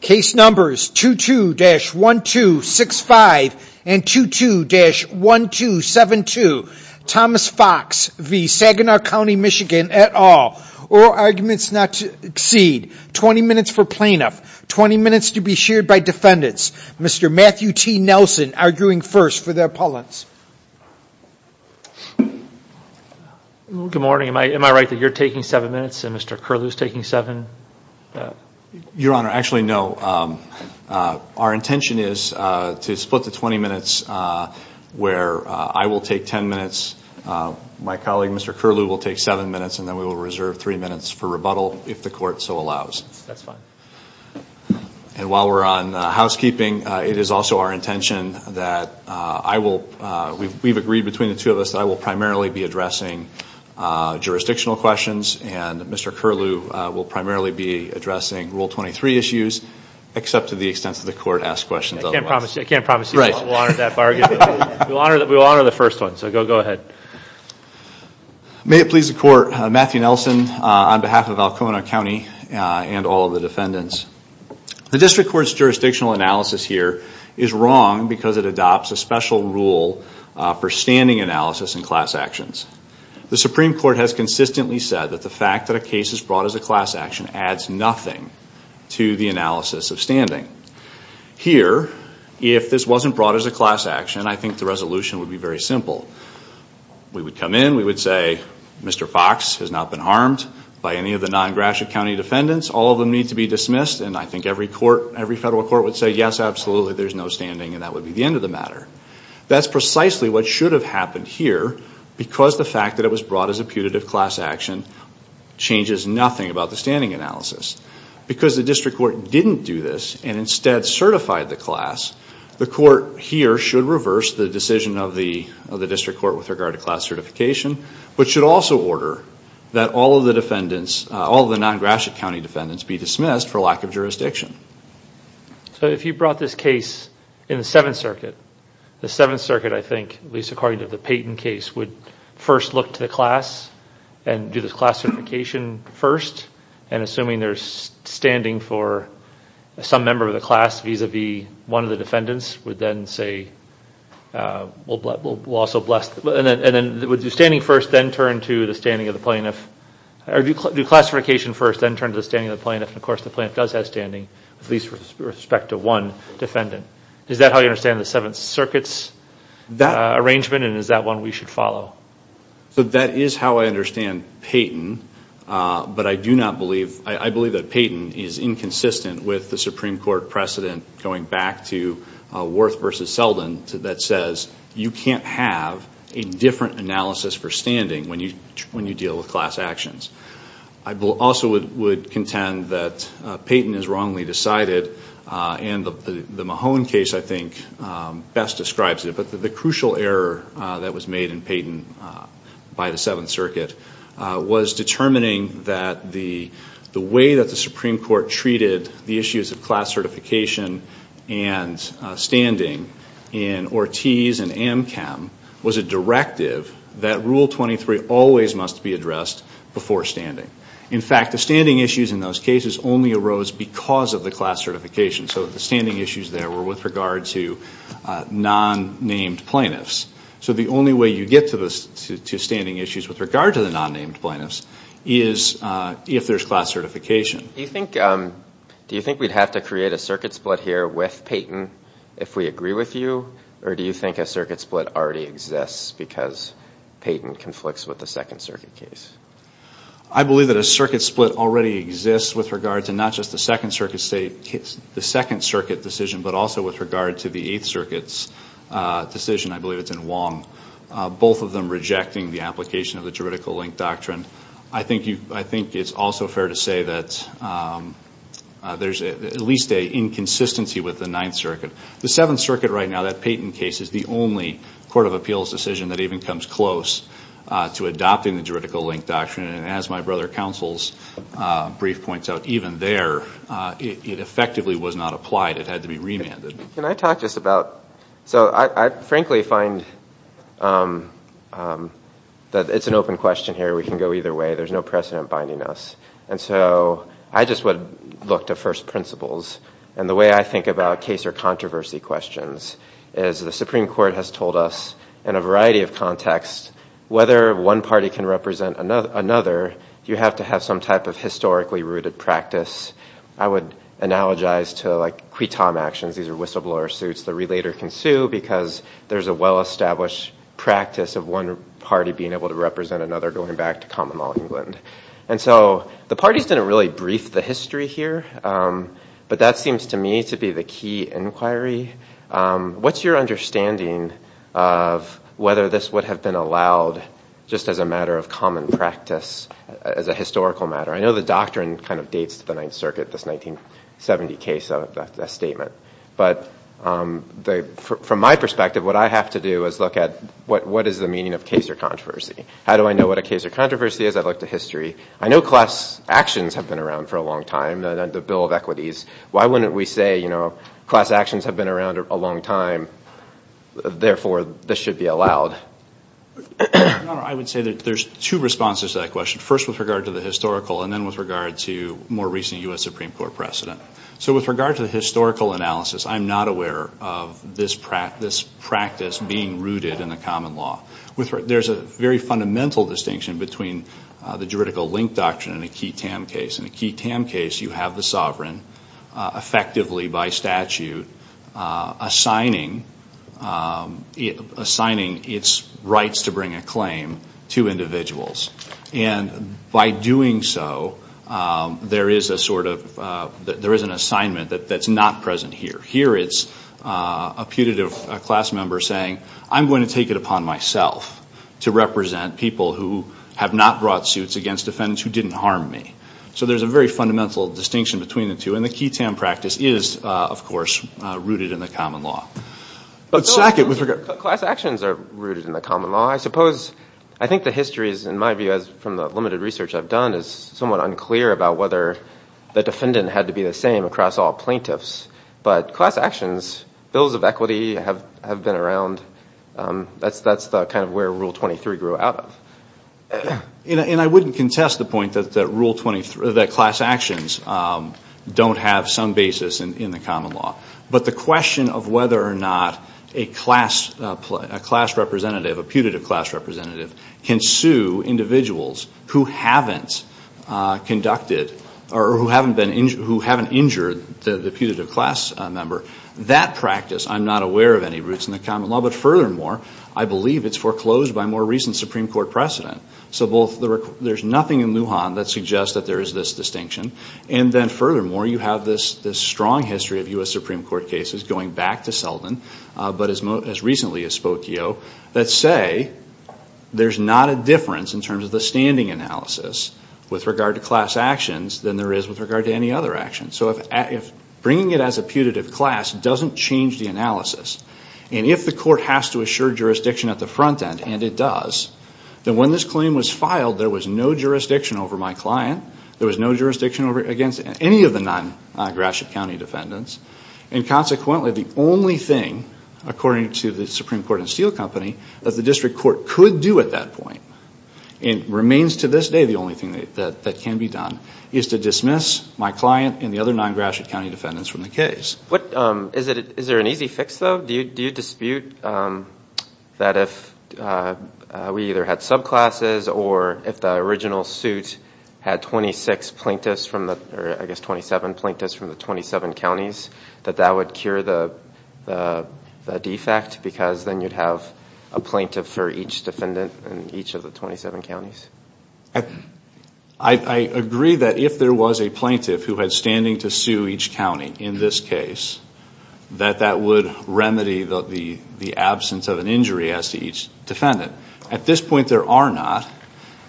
Case numbers 22-1265 and 22-1272. Thomas Fox v. Saginaw County, Michigan et al. All arguments not to exceed 20 minutes for plaintiff, 20 minutes to be sheared by defendants. Mr. Matthew T. Nelson arguing first for the appellants. Good morning am I am I right that you're taking seven minutes and Mr. Curlew's taking seven? Your honor actually no our intention is to split the 20 minutes where I will take 10 minutes my colleague Mr. Curlew will take seven minutes and then we will reserve three minutes for rebuttal if the court so allows. That's fine. And while we're on housekeeping it is also our intention that I will we've agreed between the two of us that I will primarily be addressing Rule 23 issues except to the extent that the court asks questions. I can't promise you that we will honor that bargain. We will honor the first one so go ahead. May it please the court, Matthew Nelson on behalf of Alcona County and all the defendants. The District Court's jurisdictional analysis here is wrong because it adopts a special rule for standing analysis in class actions. The Supreme Court has consistently said that the fact that a case is brought as a class action adds nothing to the analysis of standing. Here if this wasn't brought as a class action I think the resolution would be very simple. We would come in we would say Mr. Fox has not been harmed by any of the non-Gratiot County defendants all of them need to be dismissed and I think every court every federal court would say yes absolutely there's no standing and that would be the end of the matter. That's precisely what should have happened here because the fact that it was brought as a putative class action changes nothing about the standing analysis. Because the District Court didn't do this and instead certified the class the court here should reverse the decision of the of the District Court with regard to class certification which should also order that all of the defendants all the non-Gratiot County defendants be dismissed for lack of jurisdiction. So if you brought this case in the Seventh Circuit the Seventh Circuit I think at least according to the Payton case would first look to the class and do this class certification first and assuming there's standing for some member of the class vis-a-vis one of the defendants would then say well but we'll also bless and then would you standing first then turn to the standing of the plaintiff or do classification first then turn to the standing of the plaintiff and of course the plaintiff does have standing with least respect to one defendant. Is that how you understand the Seventh Circuit's arrangement and is that one we should follow? So that is how I understand Payton but I do not believe I believe that Payton is inconsistent with the Supreme Court precedent going back to Worth versus Selden that says you can't have a different analysis for standing when you when you deal with class actions. I will also would contend that Payton is wrongly decided and the describes it but the crucial error that was made in Payton by the Seventh Circuit was determining that the the way that the Supreme Court treated the issues of class certification and standing in Ortiz and Amchem was a directive that Rule 23 always must be addressed before standing. In fact the standing issues in those cases only arose because of the class certification. So the standing issues there were with regard to non-named plaintiffs. So the only way you get to the standing issues with regard to the non-named plaintiffs is if there's class certification. Do you think we'd have to create a circuit split here with Payton if we agree with you or do you think a circuit split already exists because Payton conflicts with the Second Circuit case? I believe that a circuit split already exists with regard to not just the Second Circuit decision but also with regard to the Eighth Circuit's decision, I believe it's in Wong, both of them rejecting the application of the juridical link doctrine. I think it's also fair to say that there's at least a inconsistency with the Ninth Circuit. The Seventh Circuit right now, that Payton case, is the only court of appeals decision that even comes close to adopting the juridical link doctrine and as my brother counsel's brief points out, even there it effectively was not applied, it had to be remanded. Can I talk just about, so I frankly find that it's an open question here, we can go either way, there's no precedent binding us and so I just would look to first principles and the way I think about case or controversy questions is the Supreme Court has told us in a variety of you have to have some type of historically rooted practice. I would analogize to like quitom actions, these are whistleblower suits, the relator can sue because there's a well-established practice of one party being able to represent another going back to common law England and so the parties didn't really brief the history here but that seems to me to be the key inquiry. What's your understanding of whether this would have been allowed just as a matter of as a historical matter? I know the doctrine kind of dates to the Ninth Circuit, this 1970 case of that statement but from my perspective what I have to do is look at what is the meaning of case or controversy. How do I know what a case or controversy is? I'd look to history. I know class actions have been around for a long time, the Bill of Equities, why wouldn't we say you know class actions have been around a long time therefore this should be with regard to the historical and then with regard to more recent US Supreme Court precedent. So with regard to the historical analysis I'm not aware of this practice being rooted in a common law. There's a very fundamental distinction between the juridical link doctrine and a quitom case. In a quitom case you have the sovereign effectively by statute assigning its rights to bring a claim to individuals and by doing so there is an assignment that's not present here. Here it's a putative class member saying I'm going to take it upon myself to represent people who have not brought suits against defendants who didn't harm me. So there's a very fundamental distinction between the two and the common law. Class actions are rooted in the common law. I suppose I think the history is in my view as from the limited research I've done is somewhat unclear about whether the defendant had to be the same across all plaintiffs but class actions, Bills of Equity have been around. That's the kind of where Rule 23 grew out of. And I wouldn't contest the point that class actions don't have some basis in the common law but the question of whether or not a class representative, a putative class representative, can sue individuals who haven't conducted or who haven't injured the putative class member. That practice I'm not aware of any roots in the common law but furthermore I believe it's foreclosed by more recent Supreme Court precedent. So there's nothing in Lujan that suggests that there is this distinction and then furthermore you have this strong history of U.S. Supreme Court cases going back to Seldin but as recently as Spokio that say there's not a difference in terms of the standing analysis with regard to class actions than there is with regard to any other action. So if bringing it as a putative class doesn't change the analysis and if the court has to assure jurisdiction at the front end, and it does, then when this claim was filed there was no jurisdiction over my client, there was no jurisdiction over any of the non-Gratiot County defendants and consequently the only thing, according to the Supreme Court and Steel Company, that the district court could do at that point and remains to this day the only thing that can be done is to dismiss my client and the other non-Gratiot County defendants from the case. Is there an easy fix though? Do you dispute that if we either had 27 plaintiffs from the 27 counties that that would cure the defect because then you'd have a plaintiff for each defendant in each of the 27 counties? I agree that if there was a plaintiff who had standing to sue each county in this case that that would remedy the absence of an injury as to each defendant. At this point there are not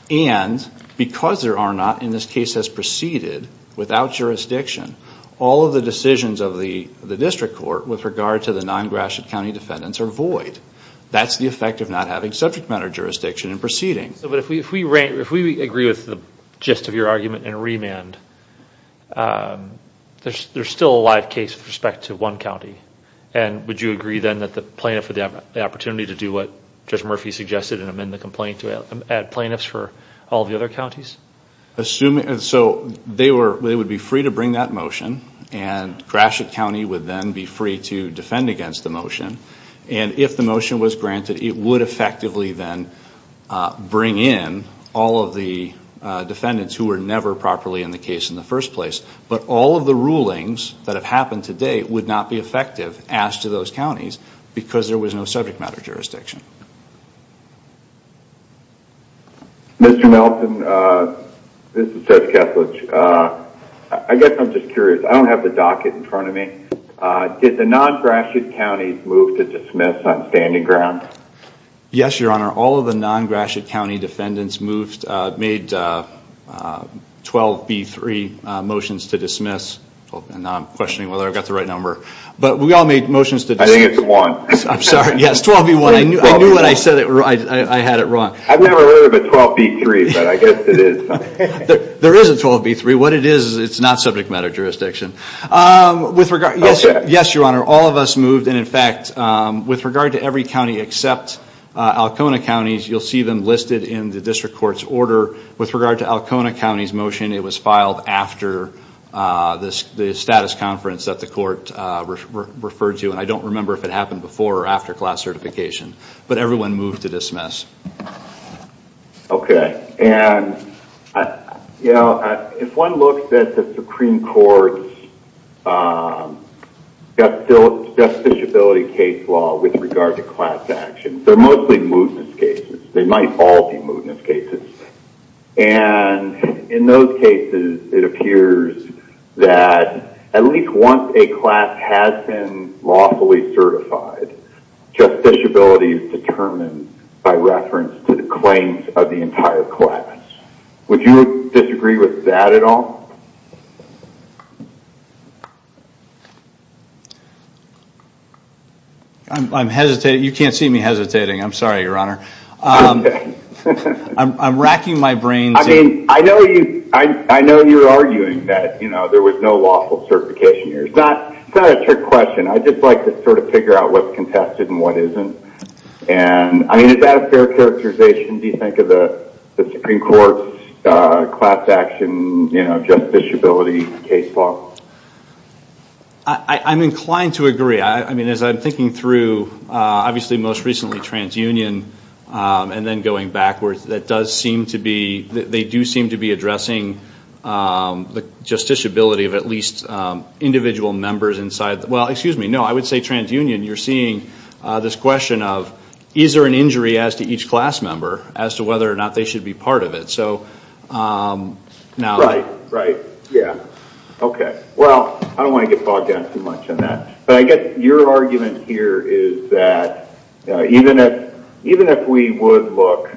and because there are not in this case has proceeded without jurisdiction, all of the decisions of the the district court with regard to the non-Gratiot County defendants are void. That's the effect of not having subject matter jurisdiction in proceedings. But if we agree with the gist of your argument and remand, there's still a live case with respect to one county and would you agree then that the plaintiff would have the opportunity to do what Judge Murphy suggested and amend the complaint to add plaintiffs for all the other counties? So they would be free to bring that motion and Gratiot County would then be free to defend against the motion and if the motion was granted it would effectively then bring in all of the defendants who were never properly in the case in the first place. But all of the rulings that have happened today would not be effective asked to those who have jurisdiction. Mr. Melton, this is Judge Kesslich. I guess I'm just curious. I don't have the docket in front of me. Did the non-Gratiot County move to dismiss on standing ground? Yes, your honor. All of the non-Gratiot County defendants moved made 12b3 motions to dismiss and I'm questioning whether I've got the right number but we I knew what I said. I had it wrong. I've never heard of a 12b3 but I guess it is. There is a 12b3. What it is it's not subject matter jurisdiction. With regard yes your honor all of us moved and in fact with regard to every county except Alcona County's you'll see them listed in the district court's order. With regard to Alcona County's motion it was filed after the status conference that the court referred to and I don't remember if it happened before or after class certification but everyone moved to dismiss. Okay and you know if one looks at the Supreme Court's justiciability case law with regard to class actions they're mostly mootness cases. They might all be mootness cases and in those cases it justiciability is determined by reference to the claims of the entire class. Would you disagree with that at all? I'm hesitating. You can't see me hesitating. I'm sorry your honor. I'm racking my brain. I mean I know you I know you're arguing that you know there was no lawful certification here. It's not a trick question. I just like to sort of contest it and what isn't and I mean is that a fair characterization do you think of the Supreme Court's class action justiciability case law? I'm inclined to agree. I mean as I'm thinking through obviously most recently TransUnion and then going backwards that does seem to be they do seem to be addressing the justiciability of at least individual members inside the well excuse me no I would say TransUnion you're seeing this question of is there an injury as to each class member as to whether or not they should be part of it so now. Right yeah okay well I don't want to get bogged down too much on that but I guess your argument here is that even if even if we would look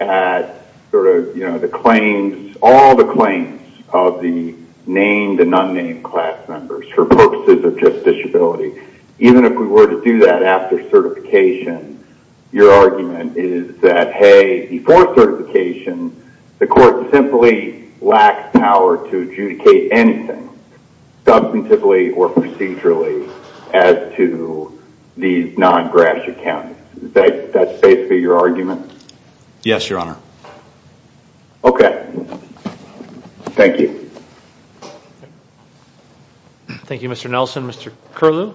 at sort of you know the claims all the claims of the named and unnamed class members for purposes of justiciability even if we were to do that after certification your argument is that hey before certification the court simply lacks power to adjudicate anything substantively or procedurally as to these non-Gratiot counties. That's basically your argument? Yes your honor. Okay thank you. Thank you Mr. Nelson. Mr. Curlew.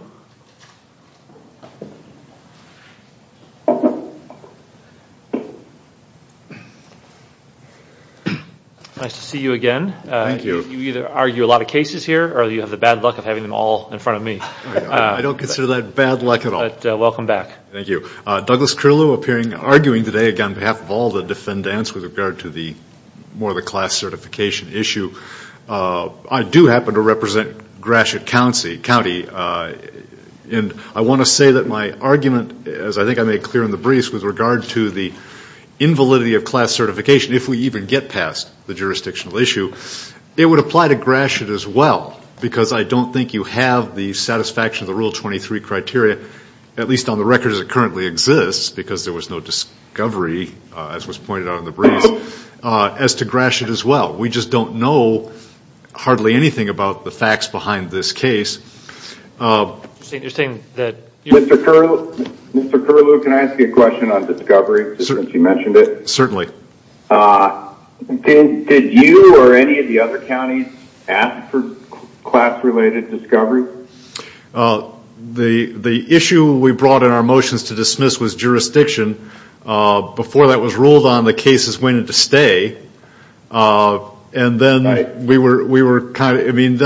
Nice to see you again. Thank you. You either argue a lot of cases here or you have the bad luck of having them all in front of me. I don't consider that bad luck at all. Welcome back. Thank you. Douglas Curlew appearing arguing today again behalf of all the defendants with regard to the more the class certification issue. I do happen to represent Gratiot County County and I want to say that my argument as I think I made clear in the briefs with regard to the invalidity of class certification if we even get past the jurisdictional issue it would apply to Gratiot as well because I don't think you have the satisfaction of the rule 23 criteria at least on the record as it currently exists because there was no discovery as was pointed out in the Gratiot as well. We just don't know hardly anything about the facts behind this case. Mr. Curlew can I ask you a question on discovery since you mentioned it? Certainly. Did you or any of the other counties ask for class related discovery? The issue we brought in our motions to dismiss was jurisdiction. Before that was ruled on the cases waiting to stay. Then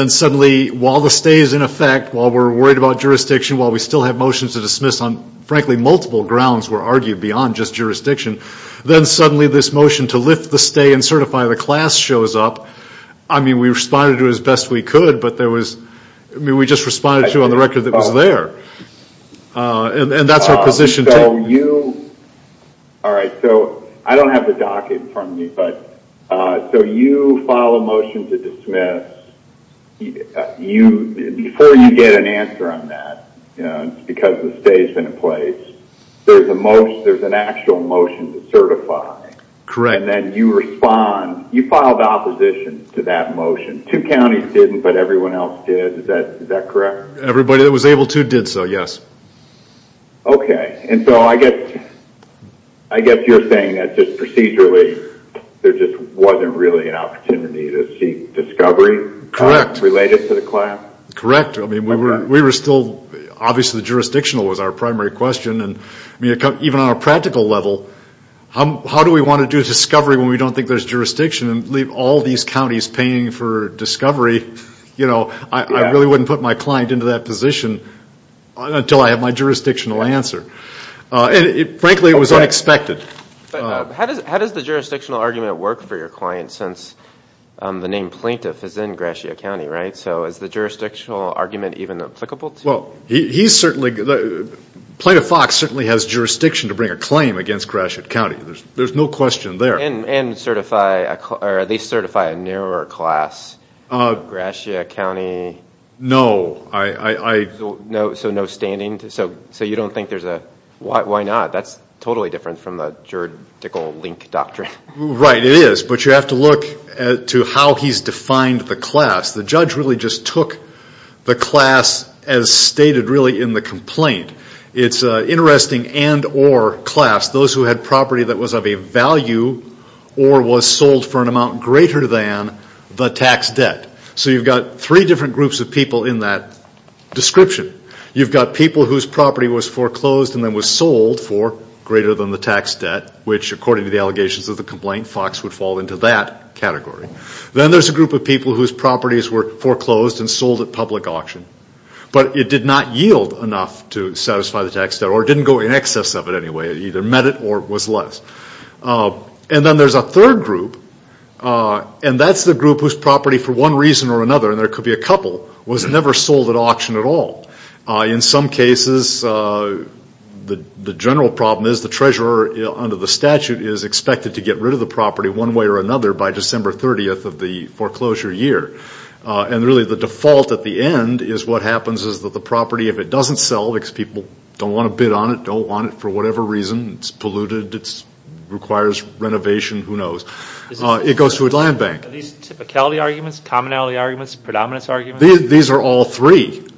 suddenly while the stay is in effect while we are worried about jurisdiction while we still have motions to dismiss on frankly multiple grounds were argued beyond just jurisdiction then suddenly this motion to lift the stay and certify the class shows up. I mean we responded to it as best we could but there was we just responded to on the record that was there and that's our docket from me but so you file a motion to dismiss you before you get an answer on that you know it's because the stay's been in place there's a motion there's an actual motion to certify. Correct. And then you respond you filed opposition to that motion two counties didn't but everyone else did is that is that correct? Everybody that was able to did so yes. Okay and so I guess I guess you're saying that just procedurally there just wasn't really an opportunity to see discovery related to the class? Correct. I mean we were we were still obviously jurisdictional was our primary question and I mean even on a practical level how do we want to do discovery when we don't think there's jurisdiction and leave all these counties paying for discovery you know I really wouldn't put my client into that position until I have my jurisdictional answer and it frankly it was unexpected. How does the jurisdictional argument work for your client since the name plaintiff is in Gratiot County right so is the jurisdictional argument even applicable? Well he's certainly the plaintiff Fox certainly has jurisdiction to bring a claim against Gratiot County there's there's no question there. And certify or at least certify a class Gratiot County? No. So no standing so so you don't think there's a why not that's totally different from the juridical link doctrine. Right it is but you have to look at to how he's defined the class the judge really just took the class as stated really in the complaint it's interesting and or class those who had property that was of a value or was sold for an amount greater than the tax debt so you've got three different groups of people in that description you've got people whose property was foreclosed and then was sold for greater than the tax debt which according to the allegations of the complaint Fox would fall into that category. Then there's a group of people whose properties were foreclosed and sold at public auction but it did not yield enough to satisfy the tax debt or didn't go in excess of it anyway it met it or was less. And then there's a third group and that's the group whose property for one reason or another and there could be a couple was never sold at auction at all. In some cases the the general problem is the treasurer under the statute is expected to get rid of the property one way or another by December 30th of the foreclosure year and really the default at the end is what happens is that the property if it doesn't sell because people don't want to bid on it, don't want it for whatever reason, it's polluted, it requires renovation, who knows. It goes to a land bank. Are these typicality arguments, commonality arguments, predominance arguments? These are all three. They're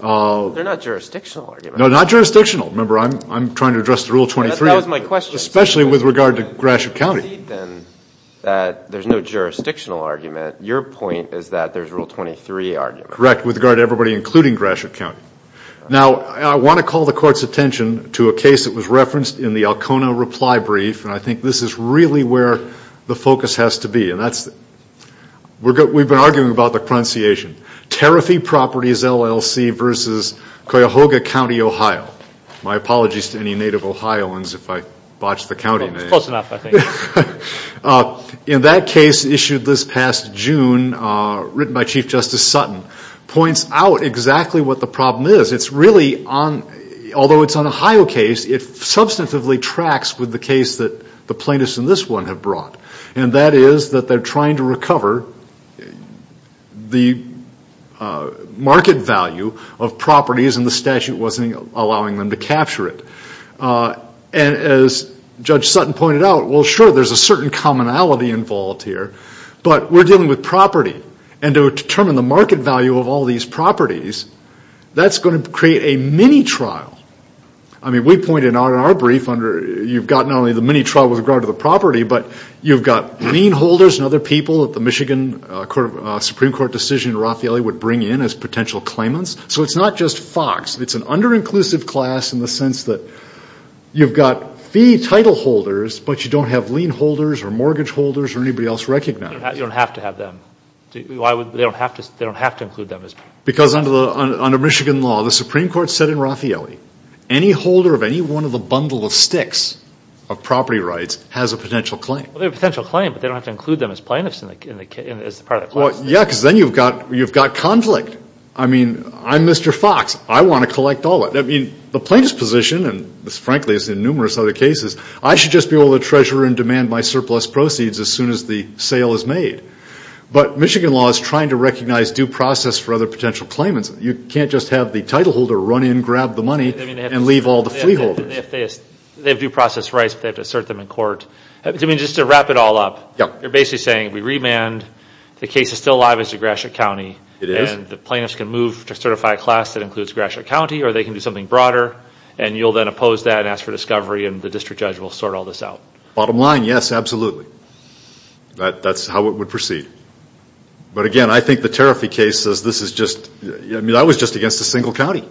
not jurisdictional. No, not jurisdictional. Remember I'm trying to address the Rule 23. That was my question. Especially with regard to Gratiot County. Then that there's no jurisdictional argument your point is that there's Rule 23 argument. Correct with regard to everybody including Gratiot County. Now I want to call the to a case that was referenced in the Alcona reply brief and I think this is really where the focus has to be and that's we've been arguing about the pronunciation. Tariffy Properties LLC versus Cuyahoga County, Ohio. My apologies to any native Ohioans if I botched the county name. In that case issued this past June written by Chief Justice Sutton points out exactly what the problem is. It's really on, although it's an Ohio case, it substantively tracks with the case that the plaintiffs in this one have brought and that is that they're trying to recover the market value of properties and the statute wasn't allowing them to capture it. And as Judge Sutton pointed out, well sure there's a certain commonality involved here but we're dealing with that's going to create a mini trial. I mean we pointed out in our brief under you've got not only the mini trial with regard to the property but you've got lien holders and other people at the Michigan Supreme Court decision Raffaelli would bring in as potential claimants. So it's not just Fox, it's an under-inclusive class in the sense that you've got fee title holders but you don't have lien holders or mortgage holders or anybody else recognized. You don't have to have them. They don't have to include them. Because under Michigan law, the Supreme Court said in Raffaelli, any holder of any one of the bundle of sticks of property rights has a potential claim. They have a potential claim but they don't have to include them as plaintiffs. Well yeah because then you've got conflict. I mean I'm Mr. Fox, I want to collect all that. I mean the plaintiff's position and this frankly is in numerous other cases, I should just be able to treasure and demand my surplus proceeds as soon as the sale is made. But Michigan law is trying to recognize due process for other potential claimants. You can't just have the title holder run in, grab the money, and leave all the fee holders. They have due process rights but they have to assert them in court. I mean just to wrap it all up, you're basically saying we remand, the case is still alive as DeGrasse County, and the plaintiffs can move to certify a class that includes DeGrasse County or they can do something broader and you'll then oppose that and ask for discovery and the district judge will sort all this out. Bottom line, yes it would proceed. But again I think the Tariffy case says this is just, I mean I was just against a single county.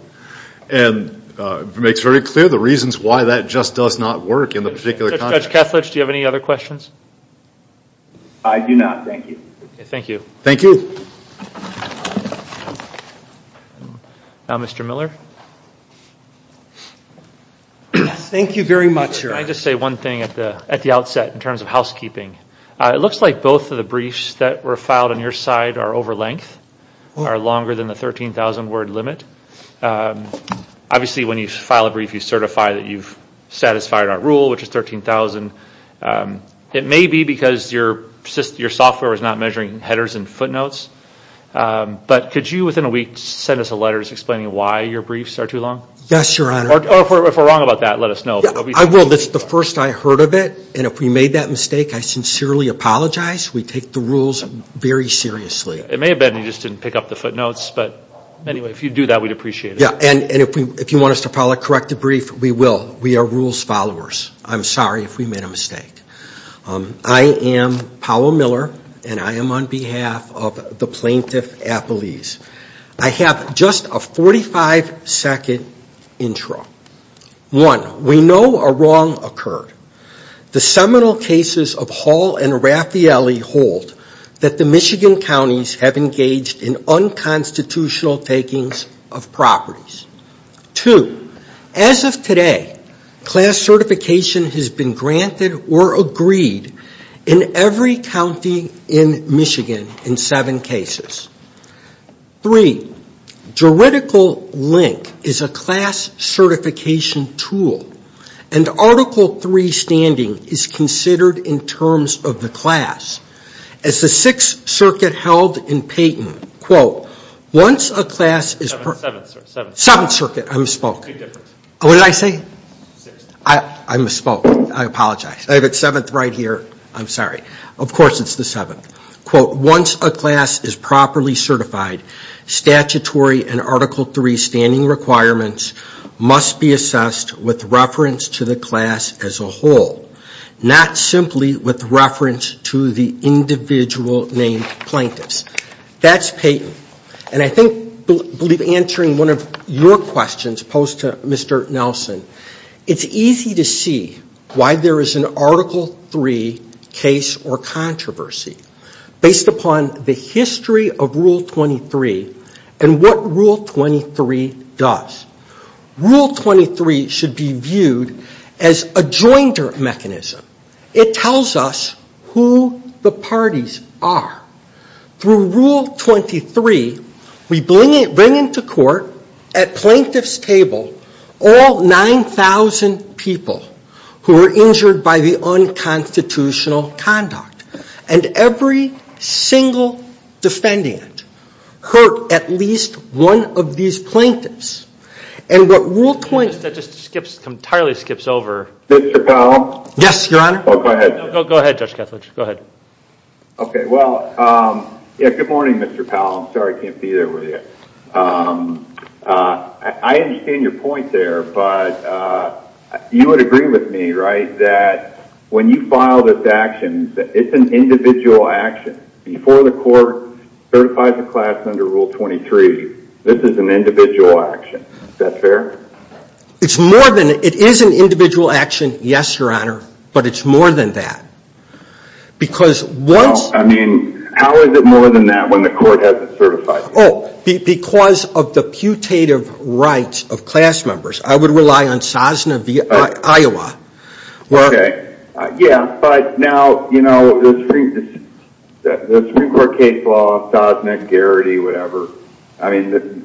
And it makes very clear the reasons why that just does not work in the particular context. Judge Kethledge, do you have any other questions? I do not, thank you. Thank you. Thank you. Now Mr. Miller. Thank you very much. Can I just say one thing at the at the outset in briefs that were filed on your side are over length, are longer than the 13,000 word limit. Obviously when you file a brief you certify that you've satisfied our rule which is 13,000. It may be because your software is not measuring headers and footnotes, but could you within a week send us a letter explaining why your briefs are too long? Yes, your honor. Or if we're wrong about that, let us know. I will. That's the first I heard of it and if we made that mistake I sincerely apologize. We take the rules very seriously. It may have been you just didn't pick up the footnotes, but anyway if you do that we'd appreciate it. Yeah and if you want us to correct the brief we will. We are rules followers. I'm sorry if we made a mistake. I am Powell Miller and I am on behalf of the Plaintiff Appellees. I have just a 45 second intro. One, we know a cases of Hall and Raffaelli hold that the Michigan counties have engaged in unconstitutional takings of properties. Two, as of today class certification has been granted or agreed in every county in Michigan in seven cases. Three, juridical link is a class certification tool and article three standing is considered in terms of the class. As the Sixth Circuit held in Payton, quote, once a class is...Seventh Circuit, I misspoke. What did I say? I misspoke. I apologize. I have it seventh right here. I'm sorry. Of course it's the seventh. Quote, once a class is properly certified statutory and article three standing requirements must be assessed with reference to the class as a whole, not simply with reference to the individual named plaintiffs. That's Payton. And I think answering one of your questions posed to Mr. Nelson, it's easy to see why there is an article three case or controversy based upon the history of what Rule 23 does. Rule 23 should be viewed as a joinder mechanism. It tells us who the parties are. Through Rule 23 we bring into court at plaintiff's table all 9,000 people who were injured by the unconstitutional conduct and every single defendant hurt at least one of these plaintiffs. And what Rule 23... That just entirely skips over. Mr. Powell? Yes, Your Honor. Go ahead. Go ahead, Judge Kethledge. Go ahead. Okay, well, good morning, Mr. Powell. I'm sorry I can't be there with you. I understand your point there, but you would agree with me, right, that when you file this action, it's an individual action. Before the court certifies a class under Rule 23, this is an individual action. Is that fair? It's more than... It is an individual action, yes, Your Honor, but it's more than that. Because once... Well, I mean, how is it more than that when the court hasn't certified it? Oh, because of the putative rights of class members. I would rely on SOSNA via Iowa. Okay, yeah, but now, you know, the Supreme Court case law, SOSNA, Garrity, whatever, I mean,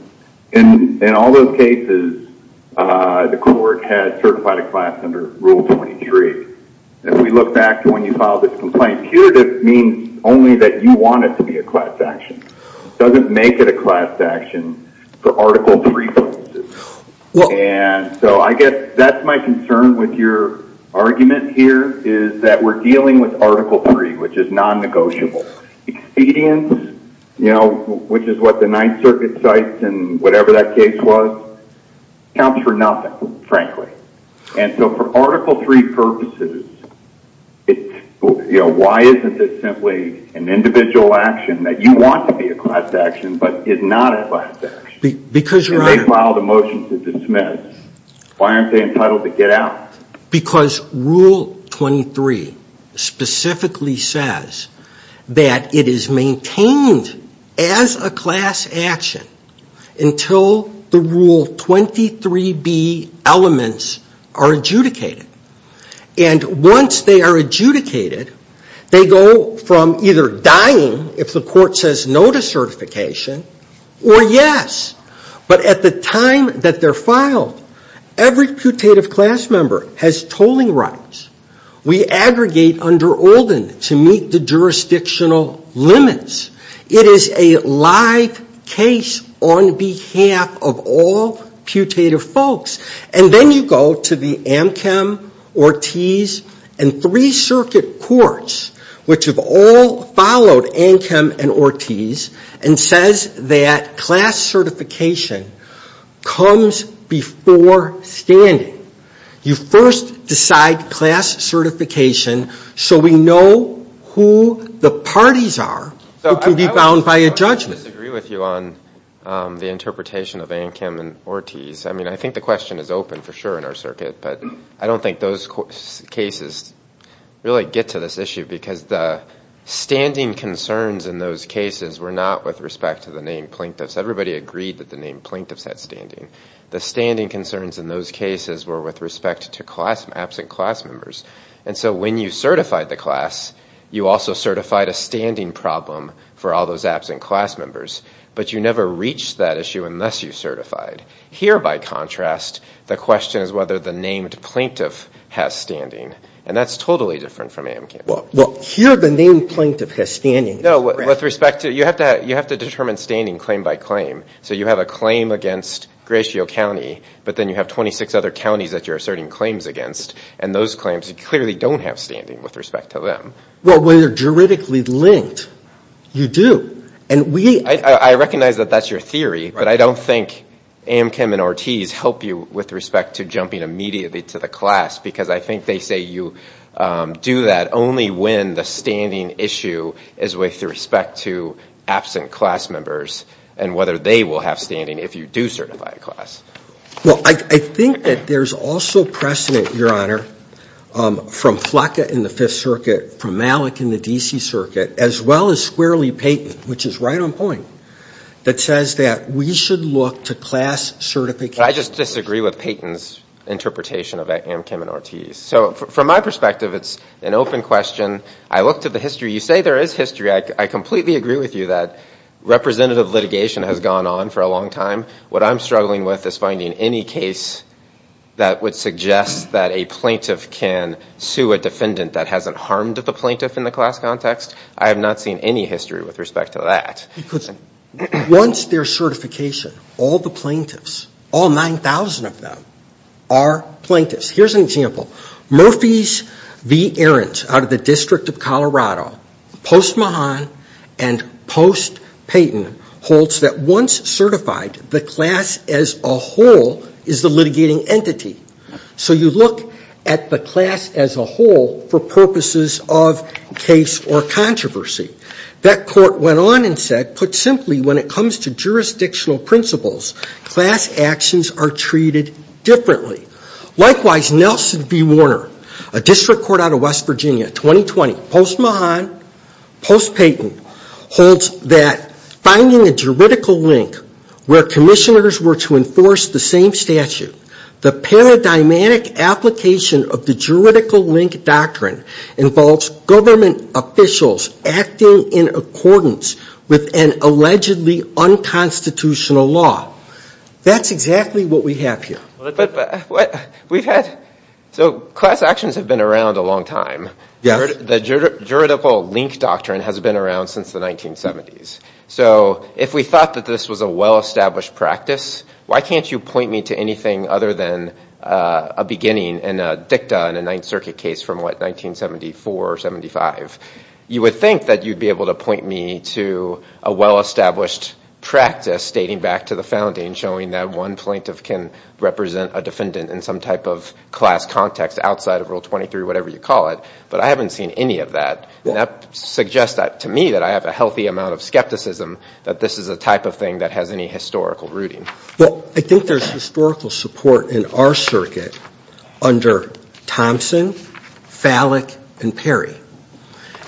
in all those cases, the court has certified a class under Rule 23. If we look back to when you filed this complaint, putative means only that you want it to be a class action. It doesn't make it a class action for Article 3 purposes. And so I guess that's my concern with your argument here is that we're dealing with Article 3, which is non-negotiable. Expedience, you know, which is what the Ninth Circuit cites in whatever that case was, counts for nothing, frankly. And so for Article 3 purposes, you know, why isn't this simply an individual action that you want to be a class action but is not a class action? Because, Your Honor... If they filed a motion to dismiss, why aren't they entitled to get out? Because Rule 23 specifically says that it is maintained as a class action until the Rule 23b elements are adjudicated. And once they are adjudicated, they go from either dying if the court says no to certification, or yes. But at the time that they're filed, every putative class member has tolling rights. We aggregate under Olden to meet the jurisdictional limits. It is a live case on behalf of all putative folks. And then you go to the Ankem, Ortiz, and Three Circuit courts, which have all followed Ankem and Ortiz, and says that class certification comes before standing. You first decide class certification so we know who the parties are who can be bound by a judgment. I disagree with you on the interpretation of Ankem and Ortiz. I mean, I think the question is open for sure in our circuit, but I don't think those cases really get to this issue because the standing concerns in those cases were not with respect to the named plaintiffs. Everybody agreed that the named plaintiffs had standing. The standing concerns in those cases were with respect to absent class members. And so when you certified the class, you also certified a standing problem for all those absent class members. But you never reached that issue unless you certified. Here, by contrast, the question is whether the named plaintiff has standing. And that's totally different from Ankem. Well, here the named plaintiff has standing. No, with respect to – you have to determine standing claim by claim. So you have a claim against Gratiot County, but then you have 26 other counties that you're asserting claims against. And those claims clearly don't have standing with respect to them. Well, when they're juridically linked, you do. And we – I recognize that that's your theory, but I don't think Ankem and Ortiz help you with respect to jumping immediately to the class because I think they say you do that only when the standing issue is with respect to absent class members and whether they will have standing if you do certify a class. Well, I think that there's also precedent, Your Honor, from Flocka in the Fifth Circuit, from Malik in the D.C. Circuit, as well as Squarely Payton, which is right on point, that says that we should look to class certification. I just disagree with Payton's interpretation of Ankem and Ortiz. So from my perspective, it's an open question. I look to the history. You say there is history. I completely agree with you that representative litigation has gone on for a long time. What I'm struggling with is finding any case that would suggest that a plaintiff can sue a defendant that hasn't harmed the plaintiff in the class context. I have not seen any history with respect to that. Because once there's certification, all the plaintiffs, all 9,000 of them, are plaintiffs. Here's an example. Murphy's v. Arendt out of the District of Colorado, post Mahan and post Payton, holds that once certified, the class as a whole is the litigating entity. So you look at the class as a whole for purposes of case or controversy. That court went on and said, put simply, when it comes to jurisdictional principles, class actions are treated differently. Likewise, Nelson v. Warner, a district court out of West Virginia, 2020, post Mahan, post Payton, holds that finding a juridical link where commissioners were to enforce the same statute, the paradigmatic application of the juridical link doctrine involves government officials acting in accordance with an allegedly unconstitutional law. That's exactly what we have here. So class actions have been around a long time. The juridical link doctrine has been around since the 1970s. So if we thought that this was a well-established practice, why can't you point me to anything other than a beginning in a dicta in a Ninth Circuit case from, what, 1974 or 75? You would think that you'd be able to point me to a well-established practice, stating back to the founding, showing that one plaintiff can represent a defendant in some type of class context outside of Rule 23, whatever you call it. But I haven't seen any of that. And that suggests to me that I have a healthy amount of skepticism that this is a type of thing that has any historical rooting. Well, I think there's historical support in our circuit under Thompson, Fallick, and Perry.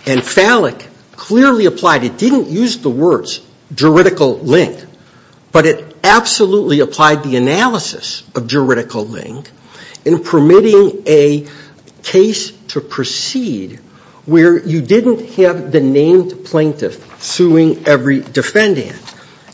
And Fallick clearly applied it, didn't use the words juridical link, but it absolutely applied the analysis of juridical link in permitting a case to proceed where you didn't have the named plaintiff suing every defendant.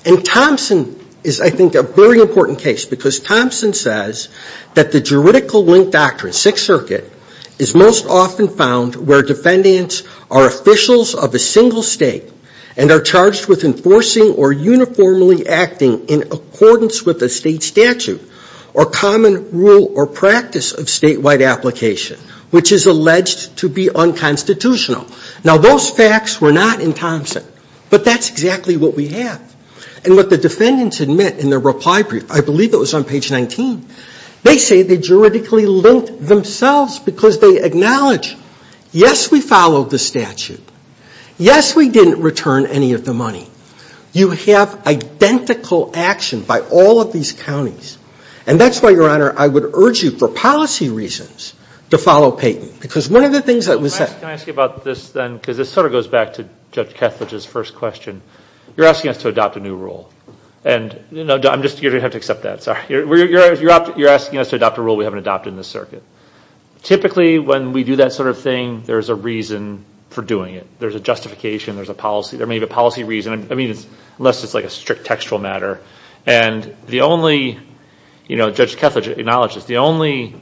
And Thompson is, I think, a very important case, because Thompson says that the juridical link doctrine, Sixth Circuit, is most often found where defendants are officials of a single state and are charged with enforcing or uniformly acting in accordance with a state statute or common rule or practice of statewide application, which is alleged to be unconstitutional. Now, those facts were not in Thompson, but that's exactly what we have. And what the defendants admit in their reply brief, I believe it was on page 19, they say they juridically linked themselves because they acknowledge, yes, we followed the statute. Yes, we didn't return any of the money. You have identical action by all of these counties. And that's why, Your Honor, I would urge you, for policy reasons, to follow Payton. Because one of the things that was said- Can I ask you about this then? Because this sort of goes back to Judge Kethledge's first question. You're asking us to adopt a new rule. And, you know, you're going to have to accept that. Sorry. You're asking us to adopt a rule we haven't adopted in this circuit. Typically, when we do that sort of thing, there's a reason for doing it. There's a justification. There's a policy. There may be a policy reason. I mean, unless it's like a strict textual matter. And the only, you know, Judge Kethledge acknowledged this, the only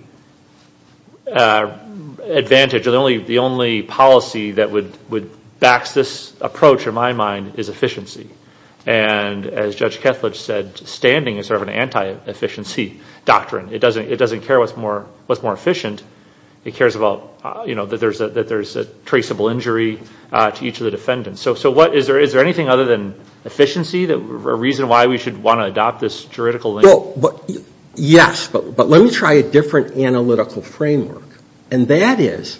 advantage or the only policy that would back this approach, in my mind, is efficiency. And as Judge Kethledge said, standing is sort of an anti-efficiency doctrine. It doesn't care what's more efficient. It cares about, you know, that there's a traceable injury to each of the defendants. So is there anything other than efficiency, a reason why we should want to adopt this juridical link? Yes. But let me try a different analytical framework. And that is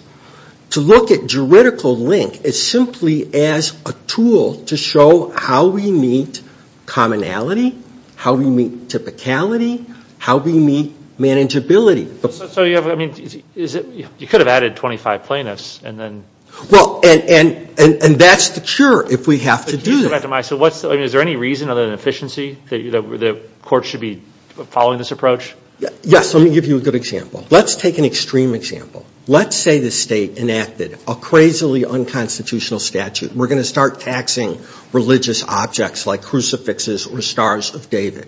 to look at juridical link as simply as a tool to show how we meet commonality, how we meet typicality, how we meet manageability. So you have, I mean, you could have added 25 plaintiffs and then. Well, and that's the cure if we have to do that. So is there any reason other than efficiency that courts should be following this approach? Yes. Let me give you a good example. Let's take an extreme example. Let's say the state enacted a crazily unconstitutional statute. We're going to start taxing religious objects like crucifixes or stars of David.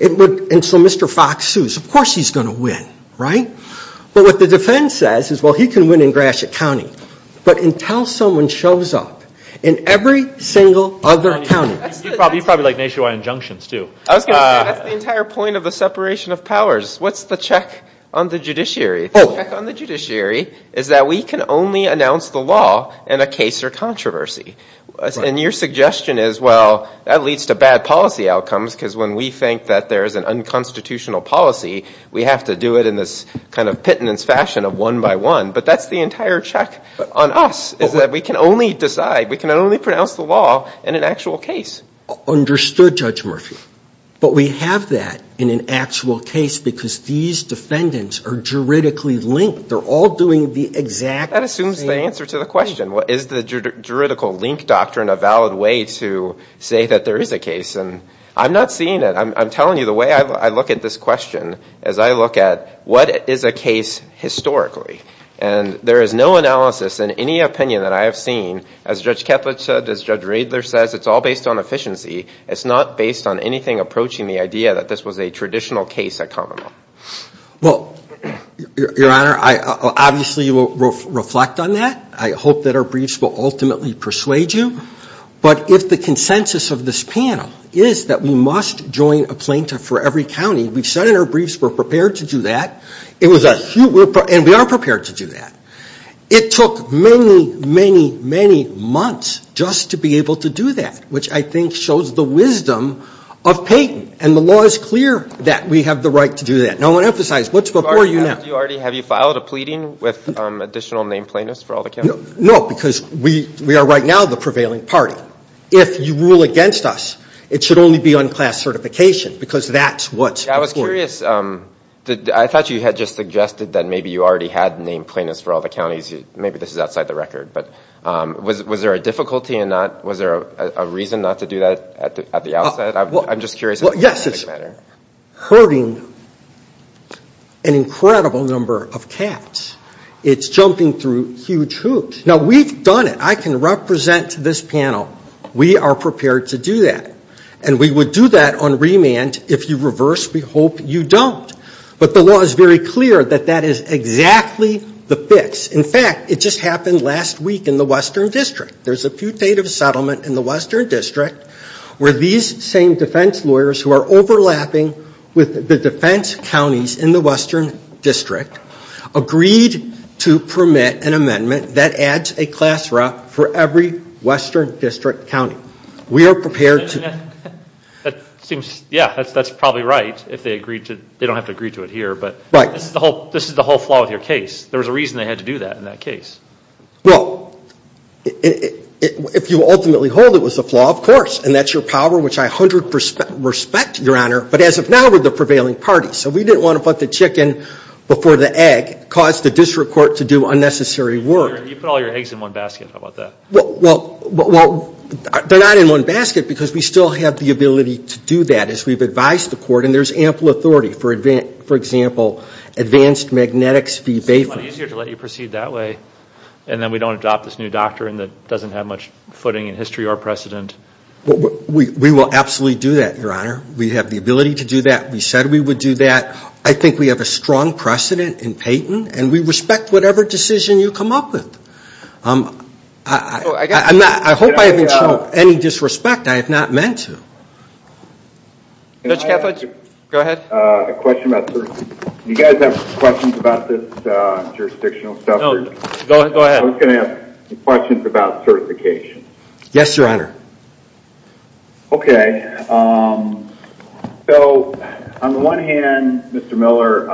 And so Mr. Fox sues. Of course he's going to win, right? But what the defense says is, well, he can win in Gratiot County. But until someone shows up in every single other county. You'd probably like nationwide injunctions, too. I was going to say, that's the entire point of the separation of powers. What's the check on the judiciary? The check on the judiciary is that we can only announce the law in a case or controversy. And your suggestion is, well, that leads to bad policy outcomes, because when we think that there is an unconstitutional policy, we have to do it in this kind of pittance fashion of one by one. But that's the entire check on us, is that we can only decide, we can only pronounce the law in an actual case. Understood, Judge Murphy. But we have that in an actual case, because these defendants are juridically linked. They're all doing the exact same thing. That assumes the answer to the question. Is the juridical link doctrine a valid way to say that there is a case? And I'm not seeing it. I'm telling you, the way I look at this question is I look at, what is a case historically? And there is no analysis in any opinion that I have seen. As Judge Ketledge said, as Judge Riedler says, it's all based on efficiency. It's not based on anything approaching the idea that this was a traditional case at Commonwealth. Well, Your Honor, obviously you will reflect on that. I hope that our briefs will ultimately persuade you. But if the consensus of this panel is that we must join a plaintiff for every county, we've said in our briefs we're prepared to do that. And we are prepared to do that. It took many, many, many months just to be able to do that, which I think shows the wisdom of Peyton. And the law is clear that we have the right to do that. Now, I want to emphasize, what's before you now? Have you filed a pleading with additional named plaintiffs for all the counties? No, because we are right now the prevailing party. If you rule against us, it should only be on class certification, because that's what's before you. I was curious. I thought you had just suggested that maybe you already had named plaintiffs for all the counties. Maybe this is outside the record. But was there a difficulty in that? Was there a reason not to do that at the outset? I'm just curious in a pragmatic manner. Yes, it's hurting an incredible number of cats. It's jumping through huge hoops. Now, we've done it. I can represent this panel. We are prepared to do that. And we would do that on remand if you reverse. We hope you don't. But the law is very clear that that is exactly the fix. In fact, it just happened last week in the Western District. There's a putative settlement in the Western District where these same defense lawyers who are overlapping with the defense counties in the Western District agreed to permit an amendment that adds a class rep for every Western District county. We are prepared to. Yeah, that's probably right if they agreed to it. They don't have to agree to it here, but this is the whole flaw with your case. There was a reason they had to do that in that case. Well, if you ultimately hold it was a flaw, of course, and that's your power, which I 100% respect, Your Honor, but as of now we're the prevailing party. So we didn't want to put the chicken before the egg, cause the district court to do unnecessary work. You put all your eggs in one basket. How about that? Well, they're not in one basket because we still have the ability to do that as we've advised the court, and there's ample authority. For example, Advanced Magnetics v. Bayfield. It's a lot easier to let you proceed that way, and then we don't adopt this new doctrine that doesn't have much footing in history or precedent. We will absolutely do that, Your Honor. We have the ability to do that. We said we would do that. I think we have a strong precedent in Peyton, and we respect whatever decision you come up with. I hope I haven't shown any disrespect. I have not meant to. Judge Kethledge, go ahead. A question about certification. Do you guys have questions about this jurisdictional stuff? No, go ahead. I was going to ask questions about certification. Yes, Your Honor. Okay. So on the one hand, Mr. Miller,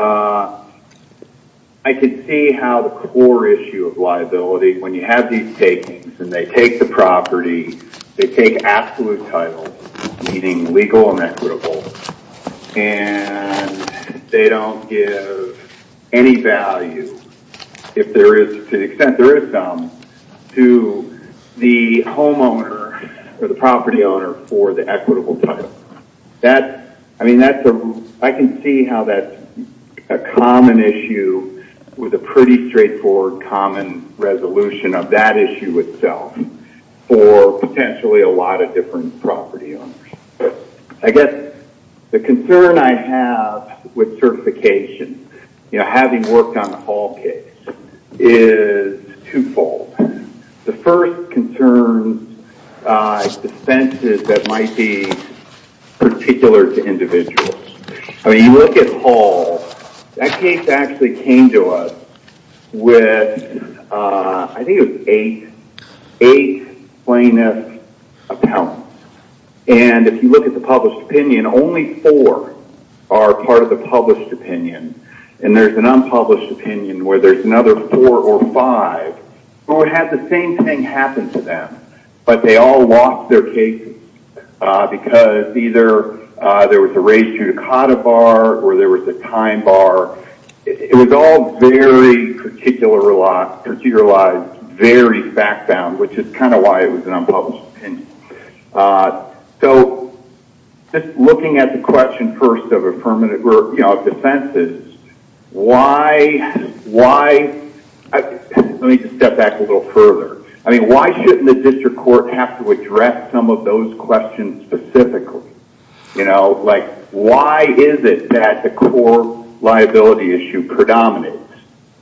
I can see how the core issue of liability, when you have these takings and they take the property, they take absolute titles, meaning legal and equitable, and they don't give any value, to the extent there is some, to the homeowner or the property owner for the equitable title. I can see how that's a common issue with a pretty straightforward common resolution of that issue itself for potentially a lot of different property owners. I guess the concern I have with certification, having worked on the Hall case, is twofold. The first concern dispenses that might be particular to individuals. I mean, you look at Hall. That case actually came to us with, I think it was eight plaintiffs' accounts. And if you look at the published opinion, only four are part of the published opinion. And there's an unpublished opinion where there's another four or five who had the same thing happen to them, but they all lost their cases because either there was a ratio to COTA bar or there was a time bar. It was all very particularized, very fact-bound, which is kind of why it was an unpublished opinion. So, just looking at the question first of defenses, why... Let me just step back a little further. I mean, why shouldn't the district court have to address some of those questions specifically? Like, why is it that the core liability issue predominates?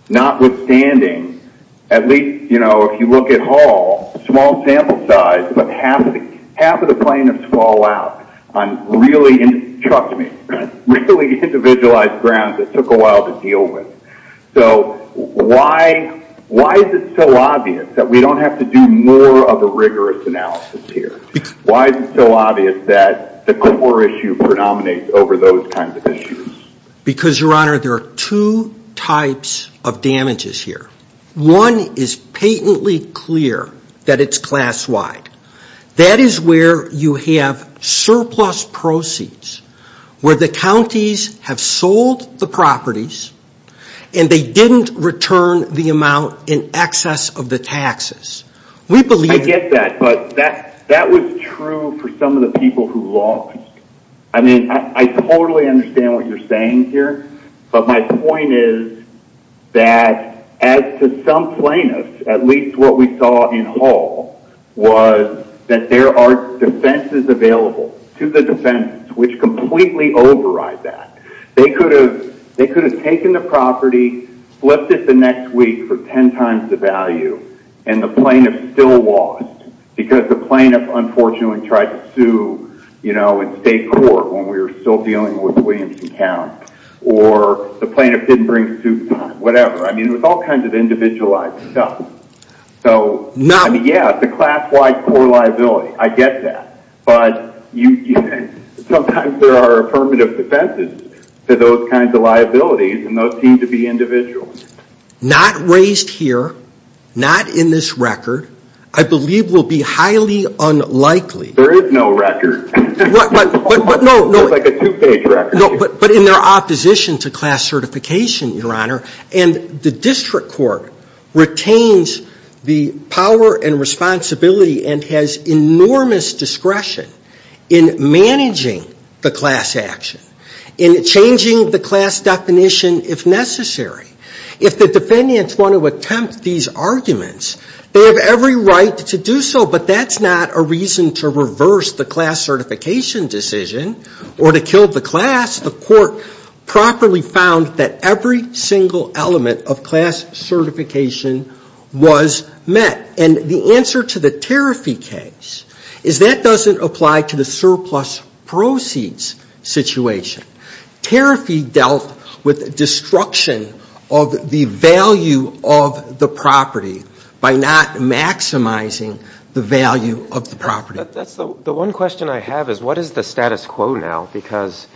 Notwithstanding, at least if you look at Hall, small sample size, but half of the plaintiffs fall out on really, trust me, really individualized grounds that took a while to deal with. So, why is it so obvious that we don't have to do more of a rigorous analysis here? Why is it so obvious that the core issue predominates over those kinds of issues? Because, Your Honor, there are two types of damages here. One is patently clear that it's class-wide. That is where you have surplus proceeds, where the counties have sold the properties and they didn't return the amount in excess of the taxes. We believe... I get that, but that was true for some of the people who lost. I mean, I totally understand what you're saying here, but my point is that, as to some plaintiffs, at least what we saw in Hall, was that there are defenses available to the defendants, which completely override that. They could have taken the property, flipped it the next week for ten times the value, and the plaintiff still lost because the plaintiff, unfortunately, tried to sue in state court when we were still dealing with Williamson County. Or the plaintiff didn't bring suit in time, whatever. I mean, it was all kinds of individualized stuff. So, yeah, the class-wide core liability, I get that. But sometimes there are affirmative defenses to those kinds of liabilities, and those seem to be individual. Not raised here, not in this record, I believe will be highly unlikely... There is no record. No, but in their opposition to class certification, Your Honor, and the district court retains the power and responsibility and has enormous discretion in managing the class action, in changing the class definition if necessary. If the defendants want to attempt these arguments, they have every right to do so, but that's not a reason to reverse the class certification decision or to kill the class. The court properly found that every single element of class certification was met. And the answer to the Tariffee case is that doesn't apply to the surplus proceeds situation. Tariffee dealt with destruction of the value of the property by not maximizing the value of the property. The one question I have is, what is the status quo now? Because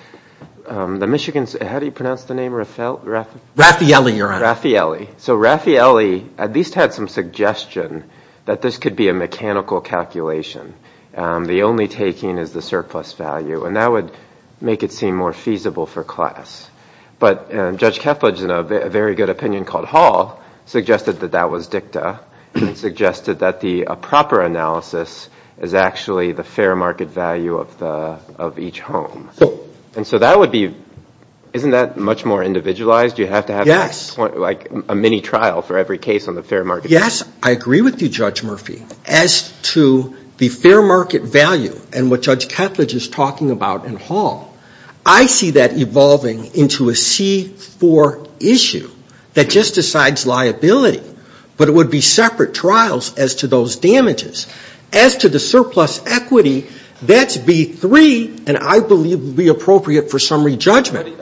the Michigans, how do you pronounce the name? Raffaele, Your Honor. Raffaele. So Raffaele at least had some suggestion that this could be a mechanical calculation. The only taking is the surplus value, and that would make it seem more feasible for class. But Judge Ketledge, in a very good opinion called Hall, suggested that that was dicta, suggested that the proper analysis is actually the fair market value of each home. And so that would be, isn't that much more individualized? You have to have like a mini trial for every case on the fair market. Yes, I agree with you, Judge Murphy. As to the fair market value and what Judge Ketledge is talking about in Hall, I see that evolving into a C4 issue that just decides liability. But it would be separate trials as to those damages. As to the surplus equity, that's B3, and I believe would be appropriate for summary judgment.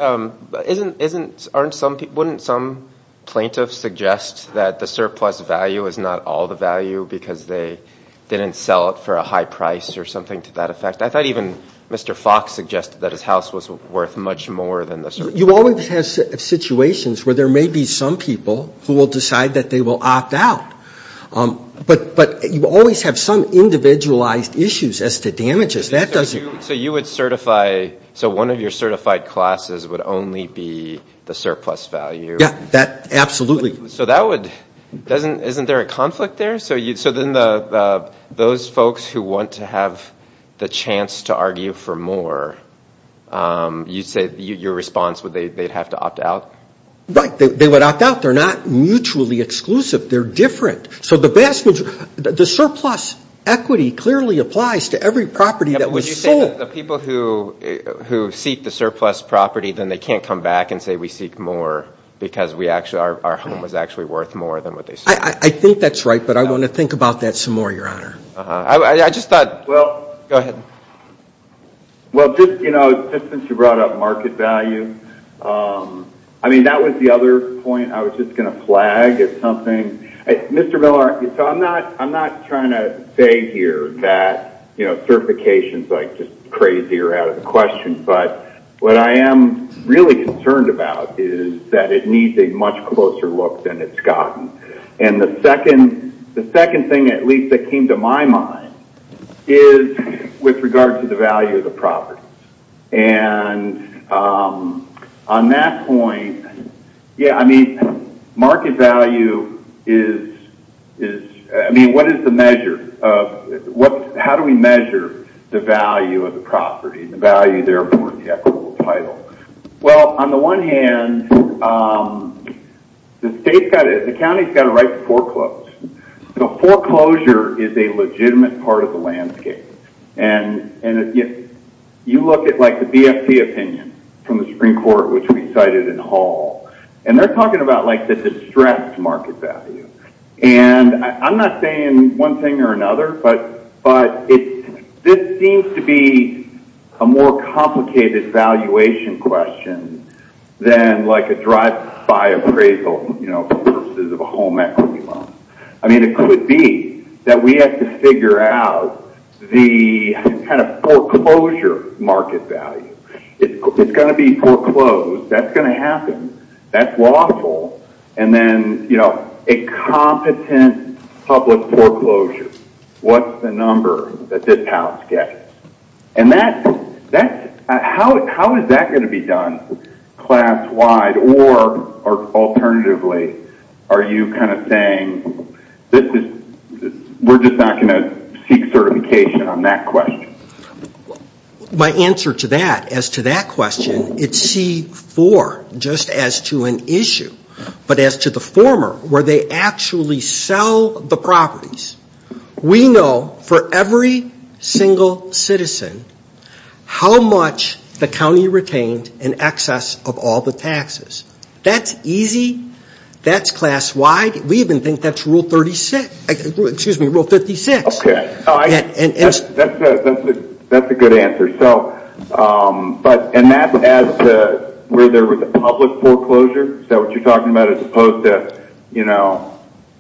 But isn't, aren't some, wouldn't some plaintiff suggest that the surplus value is not all the value because they didn't sell it for a high price or something to that effect? I thought even Mr. Fox suggested that his house was worth much more than the surplus. You always have situations where there may be some people who will decide that they will opt out. But you always have some individualized issues as to damages. So you would certify, so one of your certified classes would only be the surplus value? Yeah, that, absolutely. So that would, doesn't, isn't there a conflict there? So then those folks who want to have the chance to argue for more, you'd say your response would be they'd have to opt out? Right, they would opt out. They're not mutually exclusive. They're different. So the best, the surplus equity clearly applies to every property that was sold. But would you say that the people who seek the surplus property, then they can't come back and say we seek more because we actually, our home was actually worth more than what they sold? I think that's right, but I want to think about that some more, Your Honor. I just thought, well, go ahead. Well, just, you know, since you brought up market value, I mean, that was the other point I was just going to flag. It's something, Mr. Miller, so I'm not trying to say here that, you know, certification is like just crazy or out of the question. But what I am really concerned about is that it needs a much closer look than it's gotten. And the second thing, at least that came to my mind, is with regard to the value of the property. And on that point, yeah, I mean, market value is, I mean, what is the measure of, how do we measure the value of the property, the value, therefore, of the equitable title? Well, on the one hand, the state's got to, the county's got to write the foreclosed. So foreclosure is a legitimate part of the landscape. And if you look at, like, the BFT opinion from the Supreme Court, which we cited in Hall, and they're talking about, like, the distressed market value. And I'm not saying one thing or another, but this seems to be a more complicated valuation question than, like, a drive-by appraisal, you know, versus a home equity loan. I mean, it could be that we have to figure out the kind of foreclosure market value. It's going to be foreclosed. That's going to happen. That's lawful. And then, you know, a competent public foreclosure. What's the number that this house gets? And that's, how is that going to be done class-wide or alternatively? Are you kind of saying, this is, we're just not going to seek certification on that question? My answer to that, as to that question, it's C-4, just as to an issue. But as to the former, where they actually sell the properties, we know for every single citizen how much the county retained in excess of all the taxes. That's easy. That's class-wide. We even think that's Rule 36, excuse me, Rule 56. Okay. That's a good answer. So, and that's as to where there was a public foreclosure? Is that what you're talking about, as opposed to, you know,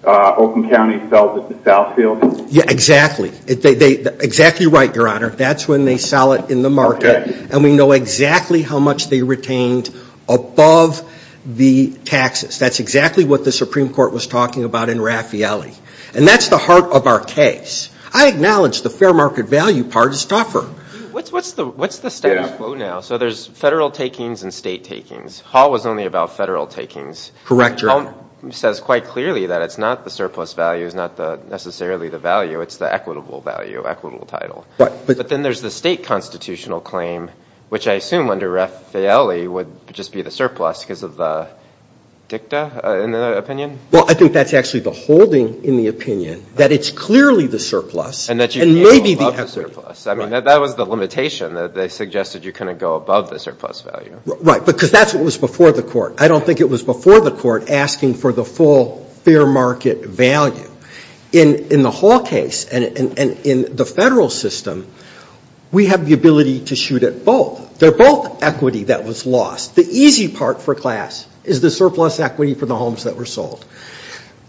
Oakland County sells it to Southfield? Yeah, exactly. Exactly right, Your Honor. That's when they sell it in the market. And we know exactly how much they retained above the taxes. That's exactly what the Supreme Court was talking about in Raffaelli. And that's the heart of our case. I acknowledge the fair market value part is tougher. What's the status quo now? So there's federal takings and state takings. Hall was only about federal takings. Correct, Your Honor. Hall says quite clearly that it's not the surplus value. It's not necessarily the value. It's the equitable value, equitable title. But then there's the state constitutional claim, which I assume under Raffaelli would just be the surplus because of the dicta, in the opinion? Well, I think that's actually the holding in the opinion, that it's clearly the surplus. And that you can go above the surplus. I mean, that was the limitation. They suggested you couldn't go above the surplus value. Right, because that's what was before the court. I don't think it was before the court asking for the full fair market value. In the Hall case and in the federal system, we have the ability to shoot at both. They're both equity that was lost. The easy part for class is the surplus equity for the homes that were sold.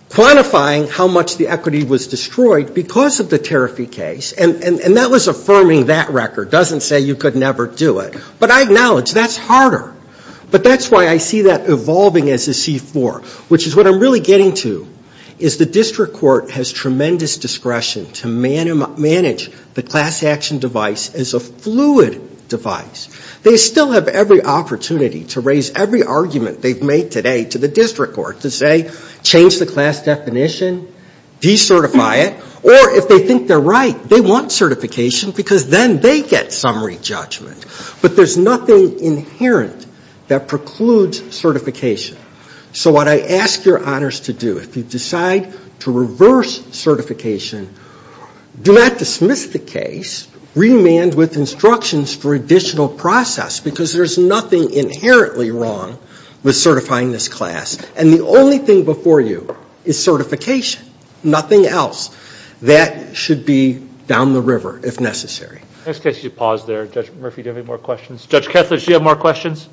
Quantifying how much the equity was destroyed because of the Tariffi case, and that was affirming that record, doesn't say you could never do it. But I acknowledge that's harder. But that's why I see that evolving as a C-4, which is what I'm really getting to, is the district court has tremendous discretion to manage the class action device as a fluid device. They still have every opportunity to raise every argument they've made today to the district court to say, change the class definition, decertify it, or if they think they're right, they want certification because then they get summary judgment. But there's nothing inherent that precludes certification. So what I ask your honors to do, if you decide to reverse certification, do not dismiss the case, remand with instructions for additional process because there's nothing inherently wrong with certifying this class, and the only thing before you is certification, nothing else. That should be down the river if necessary. In this case, you pause there. Judge Murphy, do you have any more questions? Judge Kethledge, do you have more questions?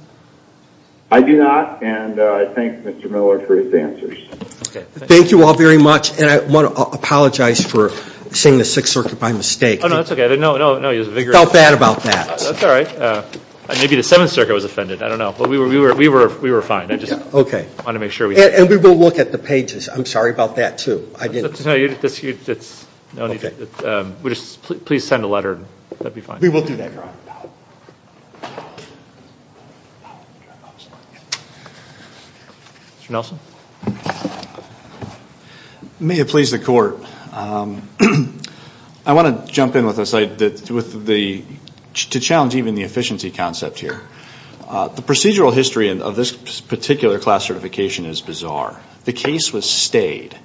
I do not, and I thank Mr. Miller for his answers. Thank you all very much, and I want to apologize for saying the Sixth Circuit by mistake. Oh, no, that's okay. I felt bad about that. That's all right. Maybe the Seventh Circuit was offended. I don't know. We were fine. I just wanted to make sure. Okay. And we will look at the pages. I'm sorry about that, too. It's no need. Please send a letter. That would be fine. We will do that, Your Honor. Thank you. Mr. Nelson? May it please the Court. I want to jump in to challenge even the efficiency concept here. The procedural history of this particular class certification is bizarre. The case was stayed.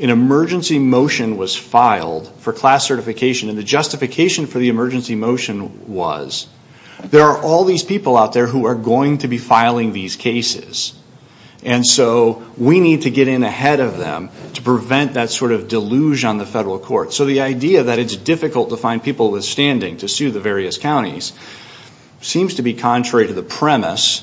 An emergency motion was filed for class certification, and the justification for the emergency motion was, there are all these people out there who are going to be filing these cases, and so we need to get in ahead of them to prevent that sort of deluge on the federal court. So the idea that it's difficult to find people with standing to sue the various counties seems to be contrary to the premise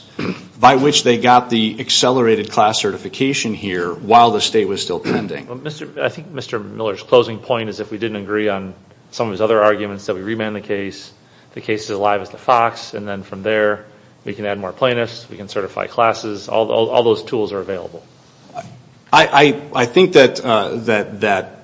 by which they got the accelerated class certification here while the state was still pending. I think Mr. Miller's closing point is if we didn't agree on some of his other arguments, that we remand the case, the case is alive as the fox, and then from there we can add more plaintiffs, we can certify classes. All those tools are available. I think that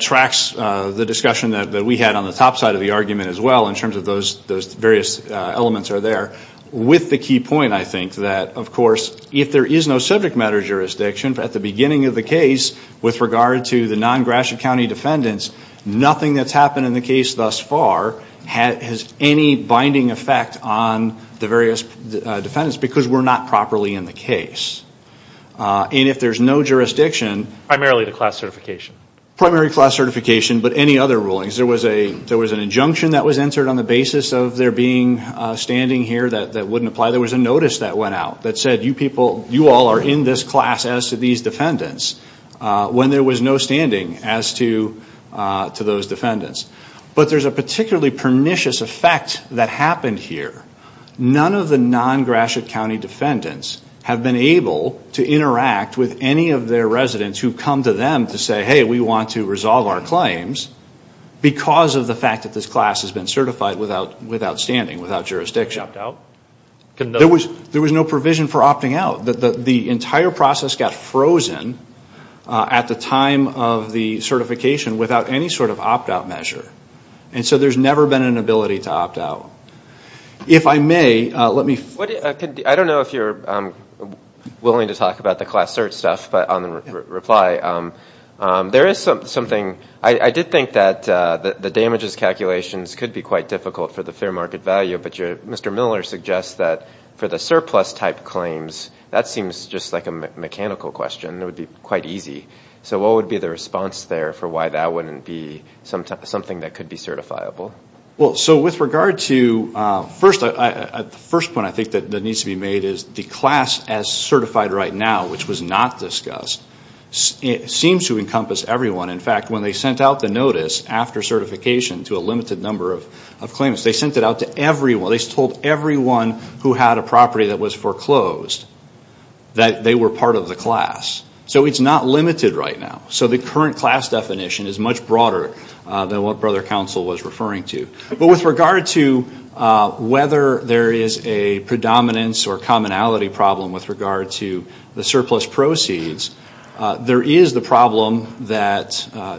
tracks the discussion that we had on the top side of the argument as well, in terms of those various elements are there, with the key point, I think, that, of course, if there is no subject matter jurisdiction, at the beginning of the case, with regard to the non-Gratiot County defendants, nothing that's happened in the case thus far has any binding effect on the various defendants, because we're not properly in the case. And if there's no jurisdiction... Primarily the class certification. Primary class certification, but any other rulings. There was an injunction that was entered on the basis of there being standing here that wouldn't apply. There was a notice that went out that said, you people, you all are in this class as to these defendants, when there was no standing as to those defendants. But there's a particularly pernicious effect that happened here. None of the non-Gratiot County defendants have been able to interact with any of their residents who've come to them to say, hey, we want to resolve our claims, because of the fact that this class has been certified without standing, without jurisdiction. There was no provision for opting out. The entire process got frozen at the time of the certification without any sort of opt-out measure. And so there's never been an ability to opt out. If I may, let me... I don't know if you're willing to talk about the class search stuff, but on reply, there is something. I did think that the damages calculations could be quite difficult for the fair market value, but Mr. Miller suggests that for the surplus type claims, that seems just like a mechanical question. It would be quite easy. So what would be the response there for why that wouldn't be something that could be certifiable? Well, so with regard to... First, the first point I think that needs to be made is the class as certified right now, which was not discussed, seems to encompass everyone. In fact, when they sent out the notice after certification to a limited number of claims, they sent it out to everyone. They told everyone who had a property that was foreclosed that they were part of the class. So it's not limited right now. So the current class definition is much broader than what Brother Counsel was referring to. But with regard to whether there is a predominance or commonality problem with regard to the surplus proceeds, there is the problem that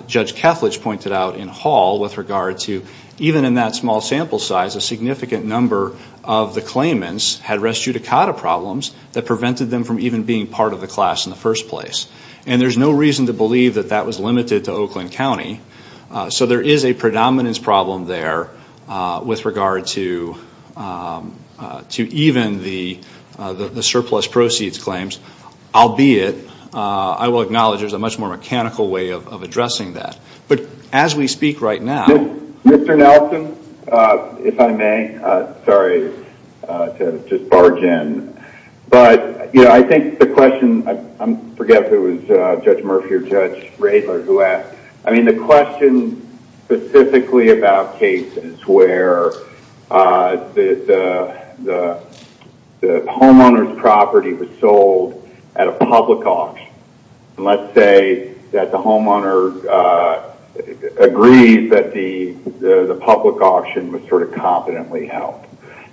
Judge Kethledge pointed out in Hall with regard to even in that small sample size, a significant number of the claimants had res judicata problems that prevented them from even being part of the class in the first place. And there's no reason to believe that that was limited to Oakland County. So there is a predominance problem there with regard to even the surplus proceeds claims, albeit I will acknowledge there's a much more mechanical way of addressing that. But as we speak right now. Mr. Nelson, if I may. Sorry to just barge in. But, you know, I think the question, I forget if it was Judge Murphy or Judge Radler who asked. I mean, the question specifically about cases where the homeowner's property was sold at a public auction. And let's say that the homeowner agrees that the public auction was sort of competently held.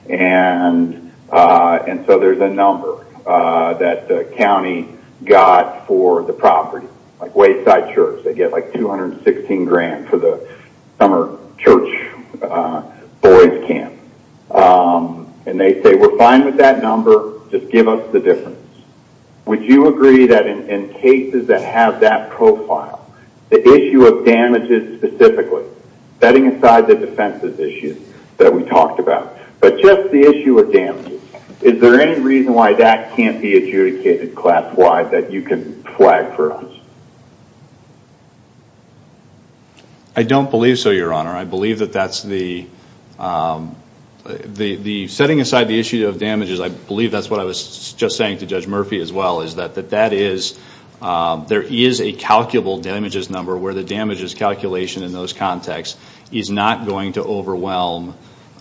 And so there's a number that the county got for the property. Like Wayside Church, they get like $216,000 for the summer church boys camp. And they say, we're fine with that number, just give us the difference. Would you agree that in cases that have that profile, the issue of damages specifically, setting aside the defenses issues that we talked about, but just the issue of damages, is there any reason why that can't be adjudicated class-wide that you can flag for us? I don't believe so, Your Honor. I believe that that's the, setting aside the issue of damages, I believe that's what I was just saying to Judge Murphy as well, is that there is a calculable damages number where the damages calculation in those contexts is not going to overwhelm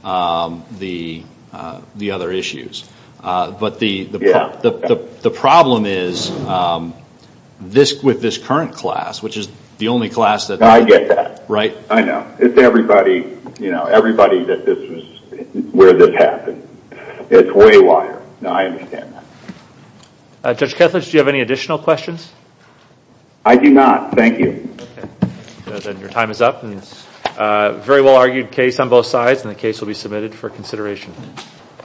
the other issues. But the problem is, with this current class, which is the only class that... I get that. Right? I know. It's everybody that this was, where this happened. It's way wider. I understand that. Judge Kethledge, do you have any additional questions? I do not. Thank you. Your time is up. Very well argued case on both sides, and the case will be submitted for consideration.